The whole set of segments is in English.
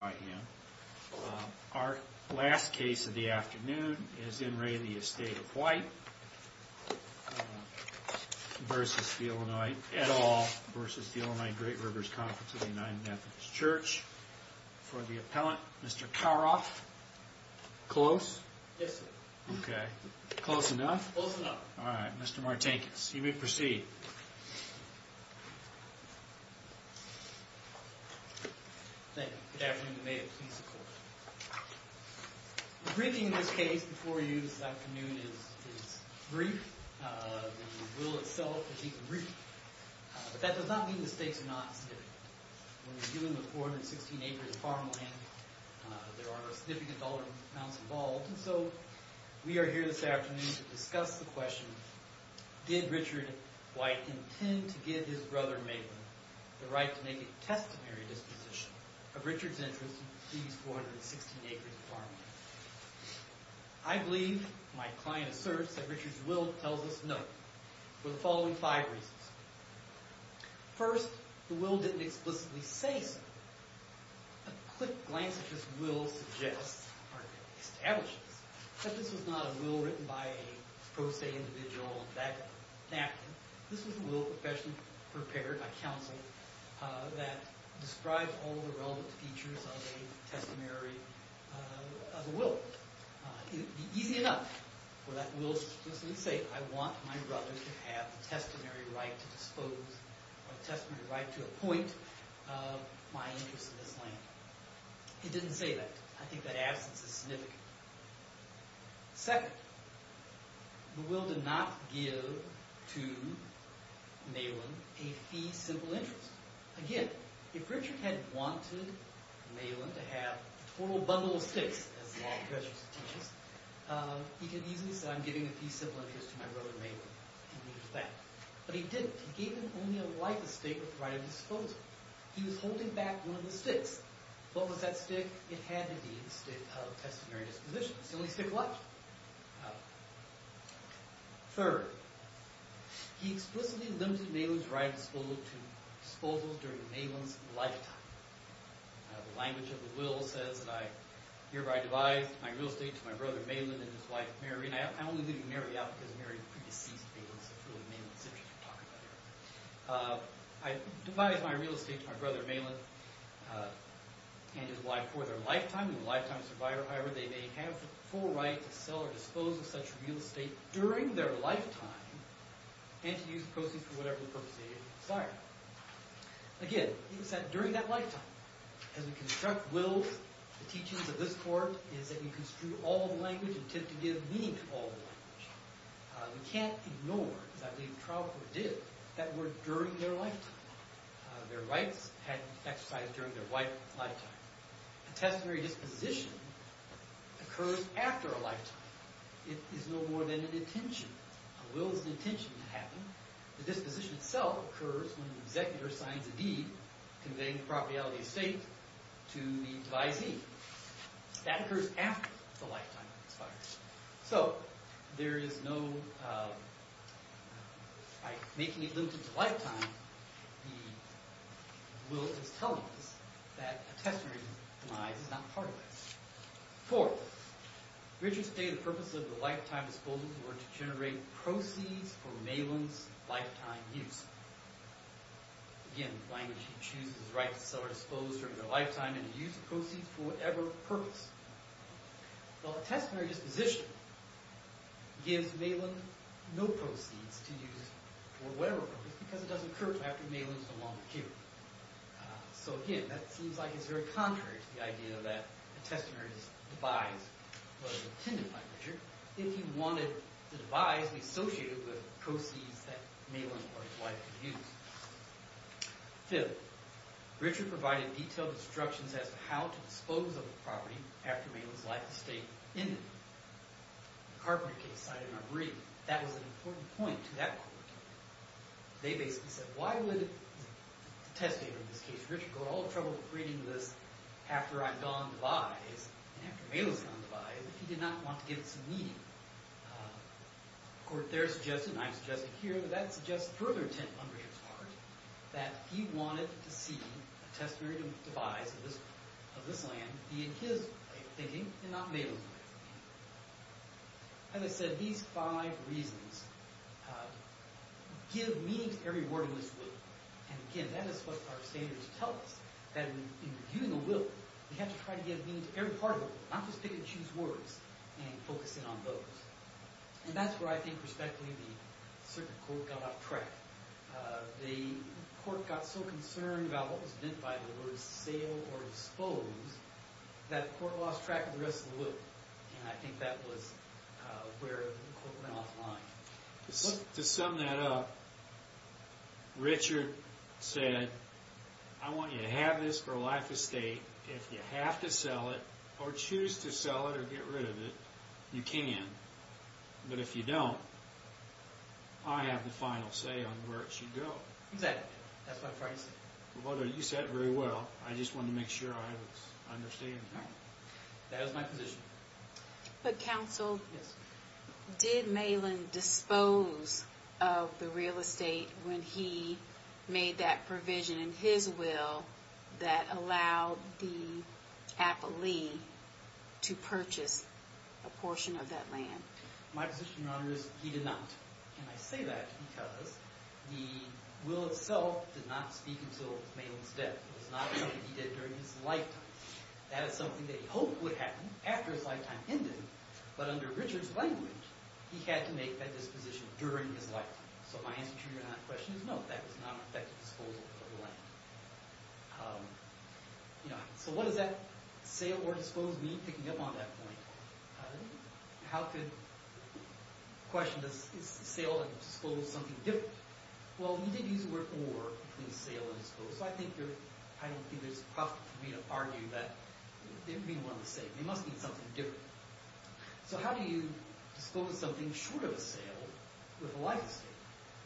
by him. Our last case of the afternoon is N. Ray the Estate of White versus the Illinois, at all, versus the Illinois Great Rivers Conference of the United Methodist Church. For the appellant, Mr. Karoff. Close? Yes sir. Okay. Close enough? Close enough. All right. Mr. Martinkus, you may proceed. Thank you. Good afternoon and may it please the court. The briefing in this case before you this afternoon is brief. The will itself is even brief. But that does not mean the stakes are not significant. When we're dealing with more than 16 acres of farmland, there are significant dollar amounts involved. And so we are here this afternoon to discuss the question, did Richard White intend to give his brother, Maitland, the right to make a testimony disposition of Richard's interest in these 416 acres of farmland? I believe, my client asserts, that Richard's will tells us no, for the following five reasons. First, the will didn't explicitly say so. A quick glance at this will suggests, or establishes, that this was not a will written by a pro se individual that acted. This was a will professionally prepared by counsel that described all the relevant features of a testimony of a will. It would be easy enough for that will to explicitly say, I want my brother to have the testimony right to dispose, or the testimony right to appoint my interest in this land. It didn't say that. I think that absence is significant. Second, the will did not give to Maitland a fee simple interest. Again, if Richard had wanted Maitland to have a total bundle of sticks, as the law of treasures teaches, he could easily say, I'm giving a fee simple interest to my brother, Maitland, and leave it at that. But he didn't. He gave him only a life estate with the right to dispose of it. He was holding back one of the sticks. What was that stick? It had, indeed, the stick of testimony disposition. It's the only stick of life. Third, he explicitly limited Maitland's right of disposal to disposals during Maitland's lifetime. The language of the will says that I hereby devise my real estate to my brother, Maitland, and his wife, Mary. And I only leave Mary out because Mary is a pre-deceased Maitland citizen. I devise my real estate to my brother, Maitland, and his wife for their lifetime. However, they may have the full right to sell or dispose of such real estate during their lifetime and to use the proceeds for whatever purpose they desire. Again, it was during that lifetime. As we construct wills, the teachings of this court is that we construe all the language and tend to give meaning to all the language. We can't ignore, as I believe the trial court did, that were during their lifetime. Their rights had been exercised during their lifetime. Testimony disposition occurs after a lifetime. It is no more than an intention. A will is an intention to happen. The disposition itself occurs when the executor signs a deed conveying the property of the estate to the devising. That occurs after the lifetime expires. So, there is no, by making it limited to lifetime, the will is telling us that a testimony is not part of it. Fourth, Richards stated the purpose of the lifetime disposal was to generate proceeds for Maitland's lifetime use. Again, the language he chooses is the right to sell or dispose during their lifetime and to use the proceeds for whatever purpose. Well, a testimony disposition gives Maitland no proceeds to use for whatever purpose because it doesn't occur after Maitland's long period. So, again, that seems like it's very contrary to the idea that a testimony is devised by Richard if he wanted the devise to be associated with proceeds that Maitland or his wife would use. Fifth, Richard provided detailed instructions as to how to dispose of a property after Maitland's life estate ended. The Carpenter case cited in our reading, that was an important point to that court. They basically said, why would the testator in this case, Richard, go to all the trouble of creating this after I'm gone devise and after Maitland's gone devise if he did not want to give it some meaning? The court there suggested, and I've suggested here, but that suggests further intent on Richard's part that he wanted to see a testimony devised of this land be in his way of thinking and not Maitland's way of thinking. As I said, these five reasons give meaning to every word in this will. And, again, that is what our standards tell us, that in giving a will, we have to try to give meaning to every part of it. I'm just going to choose words and focus in on those. And that's where I think, respectfully, the circuit court got off track. The court got so concerned about what was meant by the word sale or dispose that the court lost track of the rest of the will. And I think that was where the court went off line. To sum that up, Richard said, I want you to have this for life estate. If you have to sell it or choose to sell it or get rid of it, you can. But if you don't, I have the final say on where it should go. Exactly. That's what I'm trying to say. Well, you said it very well. I just wanted to make sure I was understanding. That is my position. But, counsel, did Malin dispose of the real estate when he made that provision in his will that allowed the appellee to purchase a portion of that land? My position, Your Honor, is he did not. And I say that because the will itself did not speak until Malin's death. It was not something he did during his lifetime. That is something that he hoped would happen after his lifetime ended, but under Richard's language, he had to make that disposition during his lifetime. So my answer to your not question is no, that was not an effective disposal of the land. So what does that sale or dispose mean, picking up on that point? How could the question, is the sale or dispose something different? Well, you did use the word or between sale and dispose, so I don't think there's profit for me to argue that they would be one and the same. They must mean something different. So how do you dispose something short of a sale with a life estate?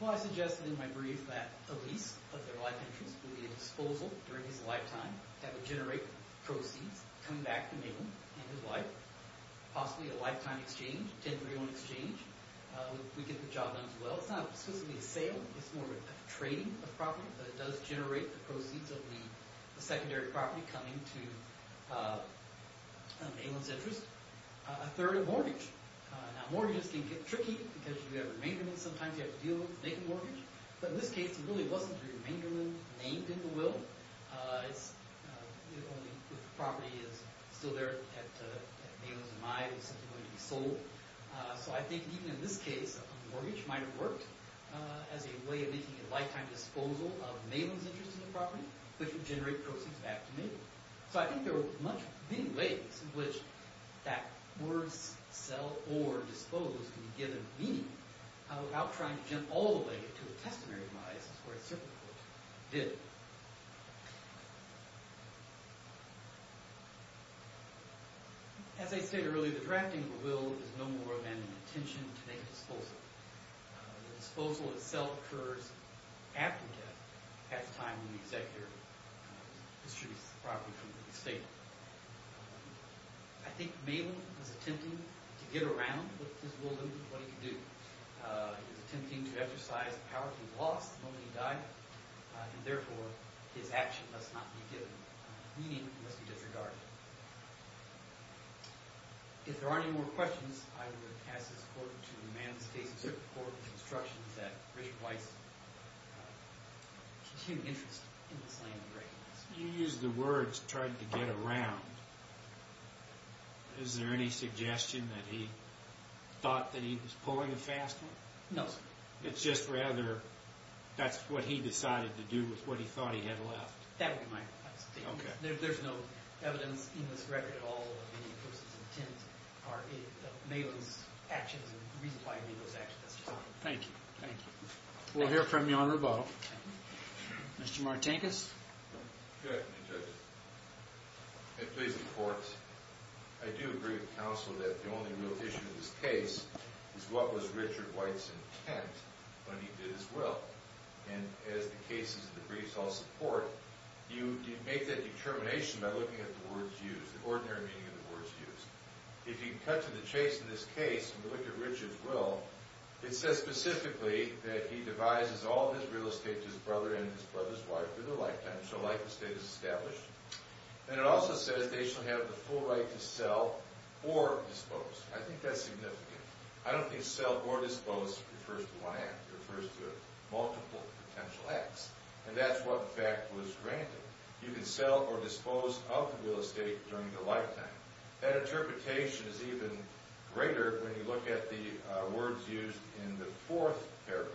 Well, I suggested in my brief that the lease of their life interest would be a disposal during his lifetime that would generate proceeds coming back to Malin and his wife. Possibly a lifetime exchange, a 1031 exchange. We get the job done as well. It's not specifically a sale. It's more of a trading of property, but it does generate the proceeds of the secondary property coming to Malin's interest. A third of mortgage. Now, mortgages can get tricky because you have a remainderment. Sometimes you have to deal with making a mortgage. But in this case, it really wasn't a remainderment named in the will. It's only if the property is still there at Malin's and mine, it was simply going to be sold. So I think even in this case, a mortgage might have worked as a way of making a lifetime disposal of Malin's interest in the property, which would generate proceeds back to Malin. So I think there are many ways in which that word sell or dispose can be given meaning without trying to jump all the way to a testimony of minus where it certainly did. As I stated earlier, the drafting of a will is no more than an intention to make a disposal. The disposal itself occurs after death, at the time when the executor distributes the property to the estate. I think Malin was attempting to get around with his will and what he could do. He was attempting to exercise the power he lost the moment he died, and therefore his action must not be given. Meaning must be disregarded. If there aren't any more questions, I would pass this over to Amanda Stacey to record the instructions that Richard Weiss continued interest in this land. You used the words, tried to get around. Is there any suggestion that he thought that he was pulling a fast one? No, sir. It's just rather that's what he decided to do with what he thought he had left. That would be my explanation. There's no evidence in this record at all of the person's intent or Malin's actions and reasons why he made those actions. Thank you. Thank you. We'll hear from you on rebuttal. Mr. Martinkus? Good afternoon, judges. Please report. I do agree with counsel that the only real issue in this case is what was Richard Weiss's intent when he did his will. And as the cases of the briefs all support, you make that determination by looking at the words used, the ordinary meaning of the words used. If you cut to the chase in this case and look at Richard's will, it says specifically that he devises all of his real estate to his brother and his brother's wife for their lifetime. So life estate is established. And it also says they shall have the full right to sell or dispose. I think that's significant. I don't think sell or dispose refers to one act. It refers to multiple potential acts. And that's what, in fact, was granted. You can sell or dispose of real estate during your lifetime. That interpretation is even greater when you look at the words used in the fourth paragraph.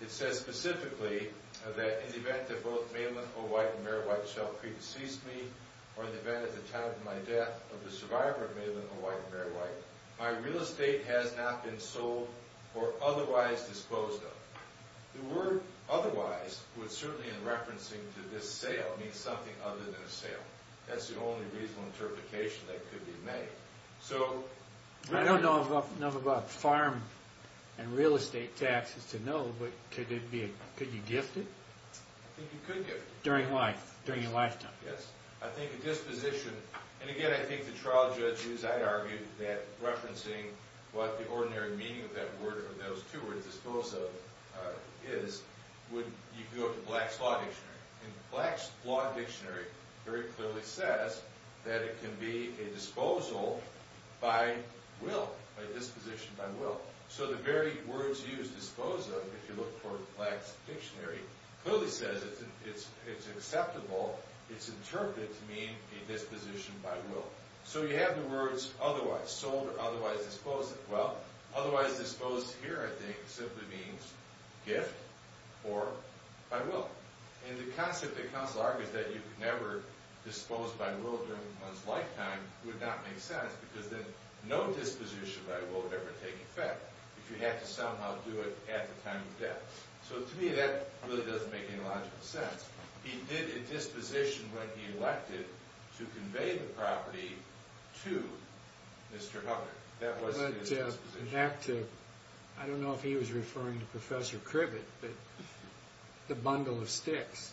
It says specifically that in the event that both Malin O'White and Mary White shall pre-decease me, or in the event at the time of my death of the survivor of Malin O'White and Mary White, my real estate has not been sold or otherwise disposed of. The word otherwise, certainly in referencing to this sale, means something other than a sale. That's the only reasonable interpretation that could be made. I don't know enough about farm and real estate taxes to know, but could you gift it? I think you could gift it. During life, during your lifetime. Yes. I think a disposition, and again, I think the trial judges, I argue, that referencing what the ordinary meaning of that word or those two words, dispose of, is, you could go up to Black's Law Dictionary. Black's Law Dictionary very clearly says that it can be a disposal by will, a disposition by will. So the very words used, dispose of, if you look for Black's Dictionary, clearly says it's acceptable, it's interpreted to mean a disposition by will. So you have the words otherwise, sold or otherwise disposed of. Well, otherwise disposed here, I think, simply means gift or by will. And the concept that counsel argues that you could never dispose by will during one's lifetime would not make sense because then no disposition by will would ever take effect if you had to somehow do it at the time of death. So to me, that really doesn't make any logical sense. He did a disposition when he elected to convey the property to Mr. Hubbard. That was his disposition. But in fact, I don't know if he was referring to Professor Cribbett, but the bundle of sticks.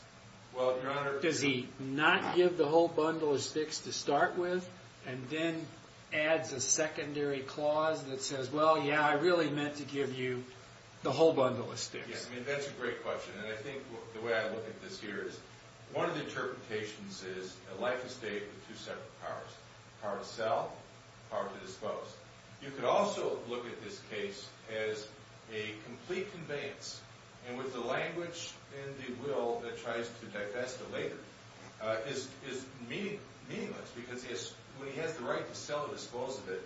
Well, Your Honor. Does he not give the whole bundle of sticks to start with and then adds a secondary clause that says, well, yeah, I really meant to give you the whole bundle of sticks. That's a great question. And I think the way I look at this here is one of the interpretations is a life estate with two separate cars, a car to sell, a car to dispose. You could also look at this case as a complete conveyance, and with the language and the will that tries to divest the later is meaningless when he has the right to sell and dispose of it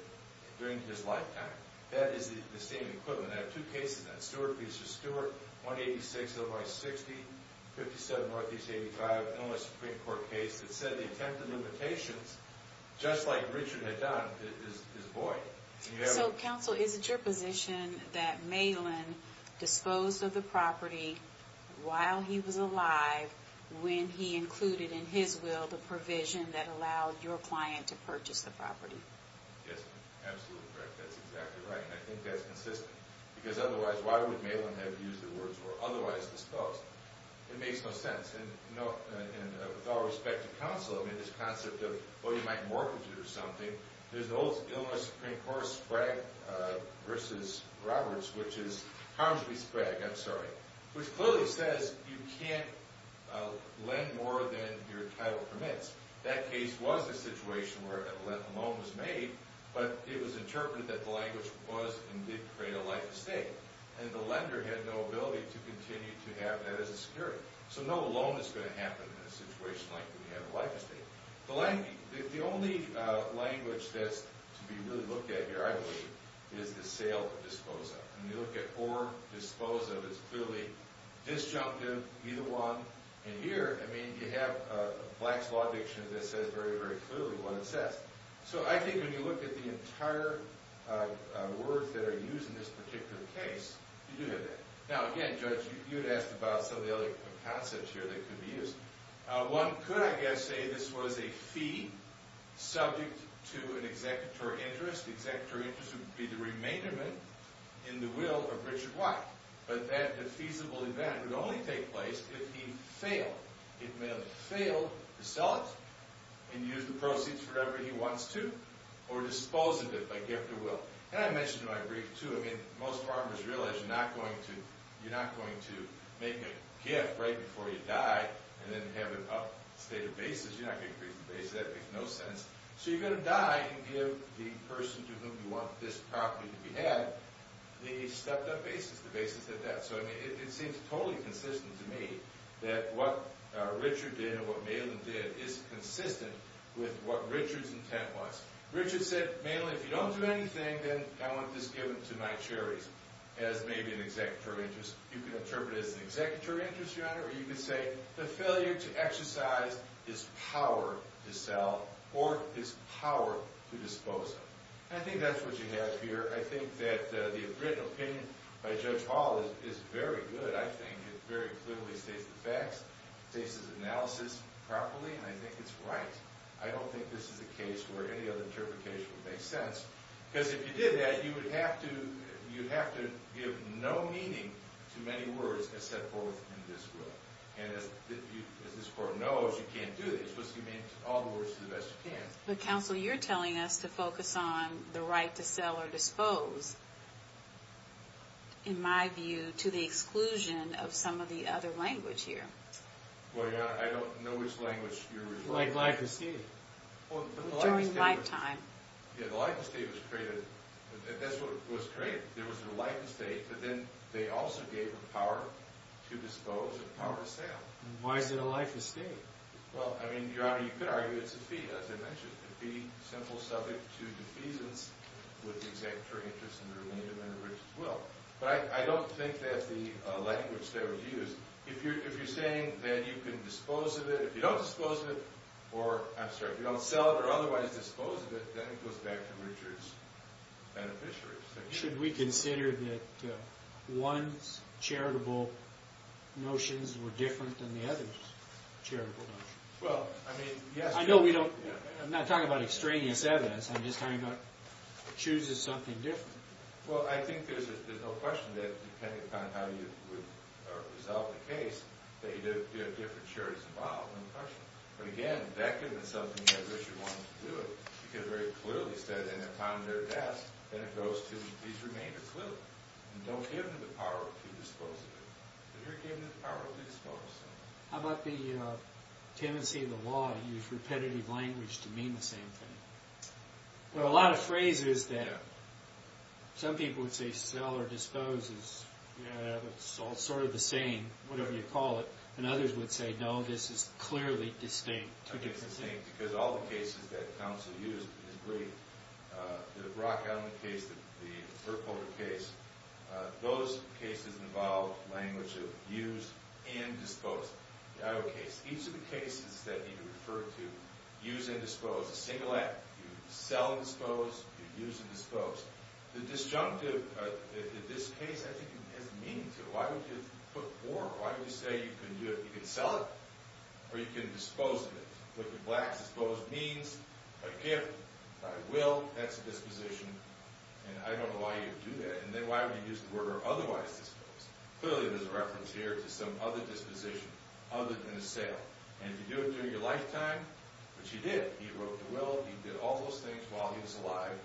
during his lifetime. That is the same equivalent. I have two cases on that. Stewart v. Stewart, 186 of I-60, 57 Northeast 85, and a Supreme Court case that said the attempted limitations, just like Richard had done, is void. So, counsel, is it your position that Malin disposed of the property while he was alive when he included in his will the provision that allowed your client to purchase the property? Yes, absolutely correct. That's exactly right, and I think that's consistent. Because otherwise, why would Malin have used the words, or otherwise, disposed? It makes no sense. And with all respect to counsel, I mean, this concept of, oh, you might mortgage it or something, there's an old Illinois Supreme Court Sprague v. Roberts, which is, you can't lend more than your title permits. That case was a situation where a loan was made, but it was interpreted that the language was and did create a life estate, and the lender had no ability to continue to have that as a security. So no loan is going to happen in a situation like we have a life estate. The only language that's to be really looked at here, I believe, is the sale or dispose of. When you look at or dispose of, it's clearly disjunctive, either one. And here, I mean, you have Black's Law Dictionary that says very, very clearly what it says. So I think when you look at the entire words that are used in this particular case, you do have that. Now, again, Judge, you had asked about some of the other concepts here that could be used. One could, I guess, say this was a fee subject to an executory interest. The executory interest would be the remainderment in the will of Richard White. But that feasible event would only take place if he failed. It may have failed to sell it and use the proceeds for whatever he wants to, or disposed of it by gift of will. And I mentioned in my brief, too, I mean, most farmers realize you're not going to make a gift right before you die and then have it up state of basis. You're not going to increase the basis. That makes no sense. So you're going to die and give the person to whom you want this property to be had the stepped-up basis, the basis of that. So, I mean, it seems totally consistent to me that what Richard did and what Malin did is consistent with what Richard's intent was. Richard said, Malin, if you don't do anything, then I want this given to my cherries as maybe an executory interest. You can interpret it as an executory interest, Your Honor. Or you could say the failure to exercise his power to sell or his power to dispose of. And I think that's what you have here. I think that the written opinion by Judge Hall is very good. I think it very clearly states the facts, states his analysis properly, and I think it's right. I don't think this is a case where any other interpretation would make sense. Because if you did that, you would have to give no meaning to many words as set forth in this will. And as this Court knows, you can't do that. You're supposed to give meaning to all the words to the best you can. But, Counsel, you're telling us to focus on the right to sell or dispose, in my view, to the exclusion of some of the other language here. Well, Your Honor, I don't know which language you're referring to. Like life estate. During lifetime. Yeah, the life estate was created. That's what was created. There was a life estate, but then they also gave him power to dispose and power to sell. Why is it a life estate? Well, I mean, Your Honor, you could argue it's a fee, as I mentioned. A fee, simple subject to defeasance with the executory interest and the remainder of an enriched will. But I don't think that's the language that was used. If you're saying that you can dispose of it, if you don't sell it or otherwise dispose of it, then it goes back to Richard's beneficiaries. Should we consider that one's charitable notions were different than the other's charitable notions? Well, I mean, yes. I'm not talking about extraneous evidence. I'm just talking about chooses something different. Well, I think there's no question that, depending upon how you would resolve the case, that you do have different charities involved. But again, that could have been something that Richard wanted to do. He could have very clearly said, and upon their deaths, then it goes to these remainder clearly. And don't give them the power to dispose of it. But here it gave them the power to dispose of it. How about the tenancy of the law to use repetitive language to mean the same thing? Well, a lot of phrases there. Some people would say sell or dispose is sort of the same, whatever you call it. And others would say, no, this is clearly distinct. I think it's distinct because all the cases that counsel used in his brief, the Brock-Allen case, the Burkholder case, those cases involved language of use and dispose. Each of the cases that he referred to, use and dispose, a single act. You sell and dispose. You use and dispose. The disjunctive, in this case, I think it has meaning to it. Why would you put more? Why would you say you can sell it or you can dispose of it? What the black dispose means, by gift, by will, that's a disposition. And I don't know why you would do that. And then why would you use the word or otherwise dispose? Clearly, there's a reference here to some other disposition other than a sale. And if you do it during your lifetime, which he did, he broke the will. He did all those things while he was alive.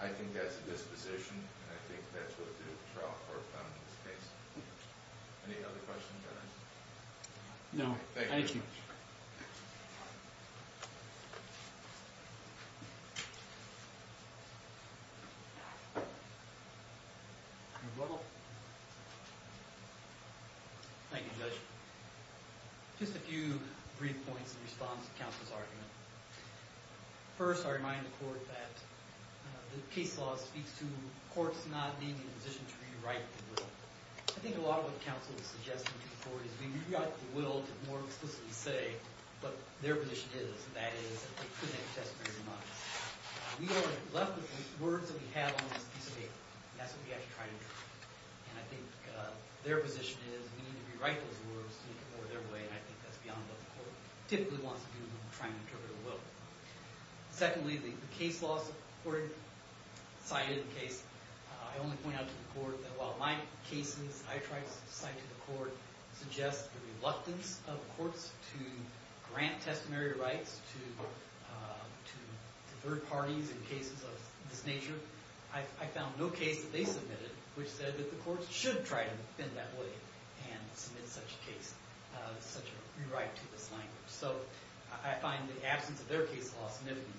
I think that's a disposition, and I think that's what the trial court found in this case. Any other questions or comments? No. Thank you very much. Thank you. Thank you, Judge. Just a few brief points in response to counsel's argument. First, I remind the court that the case law speaks to courts not being in a position to rewrite the will. I think a lot of what counsel is suggesting to the court is we rewrite the will to more explicitly say what their position is, and that is that they couldn't have testified otherwise. We are left with the words that we have on this piece of paper. That's what we have to try to do. And I think their position is we need to rewrite those words to make it more their way, and I think that's beyond what the court typically wants to do when we're trying to interpret a will. Secondly, the case law court cited in the case, I only point out to the court that while my cases I tried to cite to the court suggest the reluctance of courts to grant testimony rights to third parties in cases of this nature, I found no case that they submitted which said that the courts should try to bend that way and submit such a case, such a rewrite to this language. So I find the absence of their case law significant.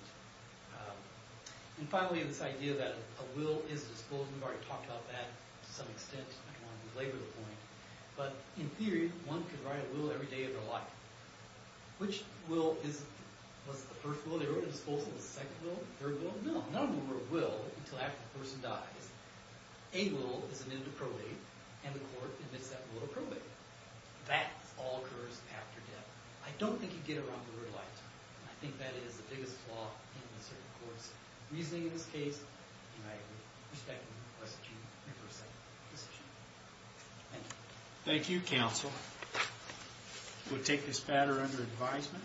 And finally, this idea that a will is a disposal. We've already talked about that to some extent. I don't want to belabor the point. But in theory, one could write a will every day of their life. Which will is it? Was it the first will? They wrote a disposal. The second will? Third will? No, not a move of will until after the person dies. A will is an end of probate, and the court admits that will to probate. That all occurs after death. I don't think you get around the rewrite. I think that is the biggest flaw in this court's reasoning in this case. And I respectfully request that you make your second decision. Thank you. Thank you, counsel. We'll take this matter under advisement.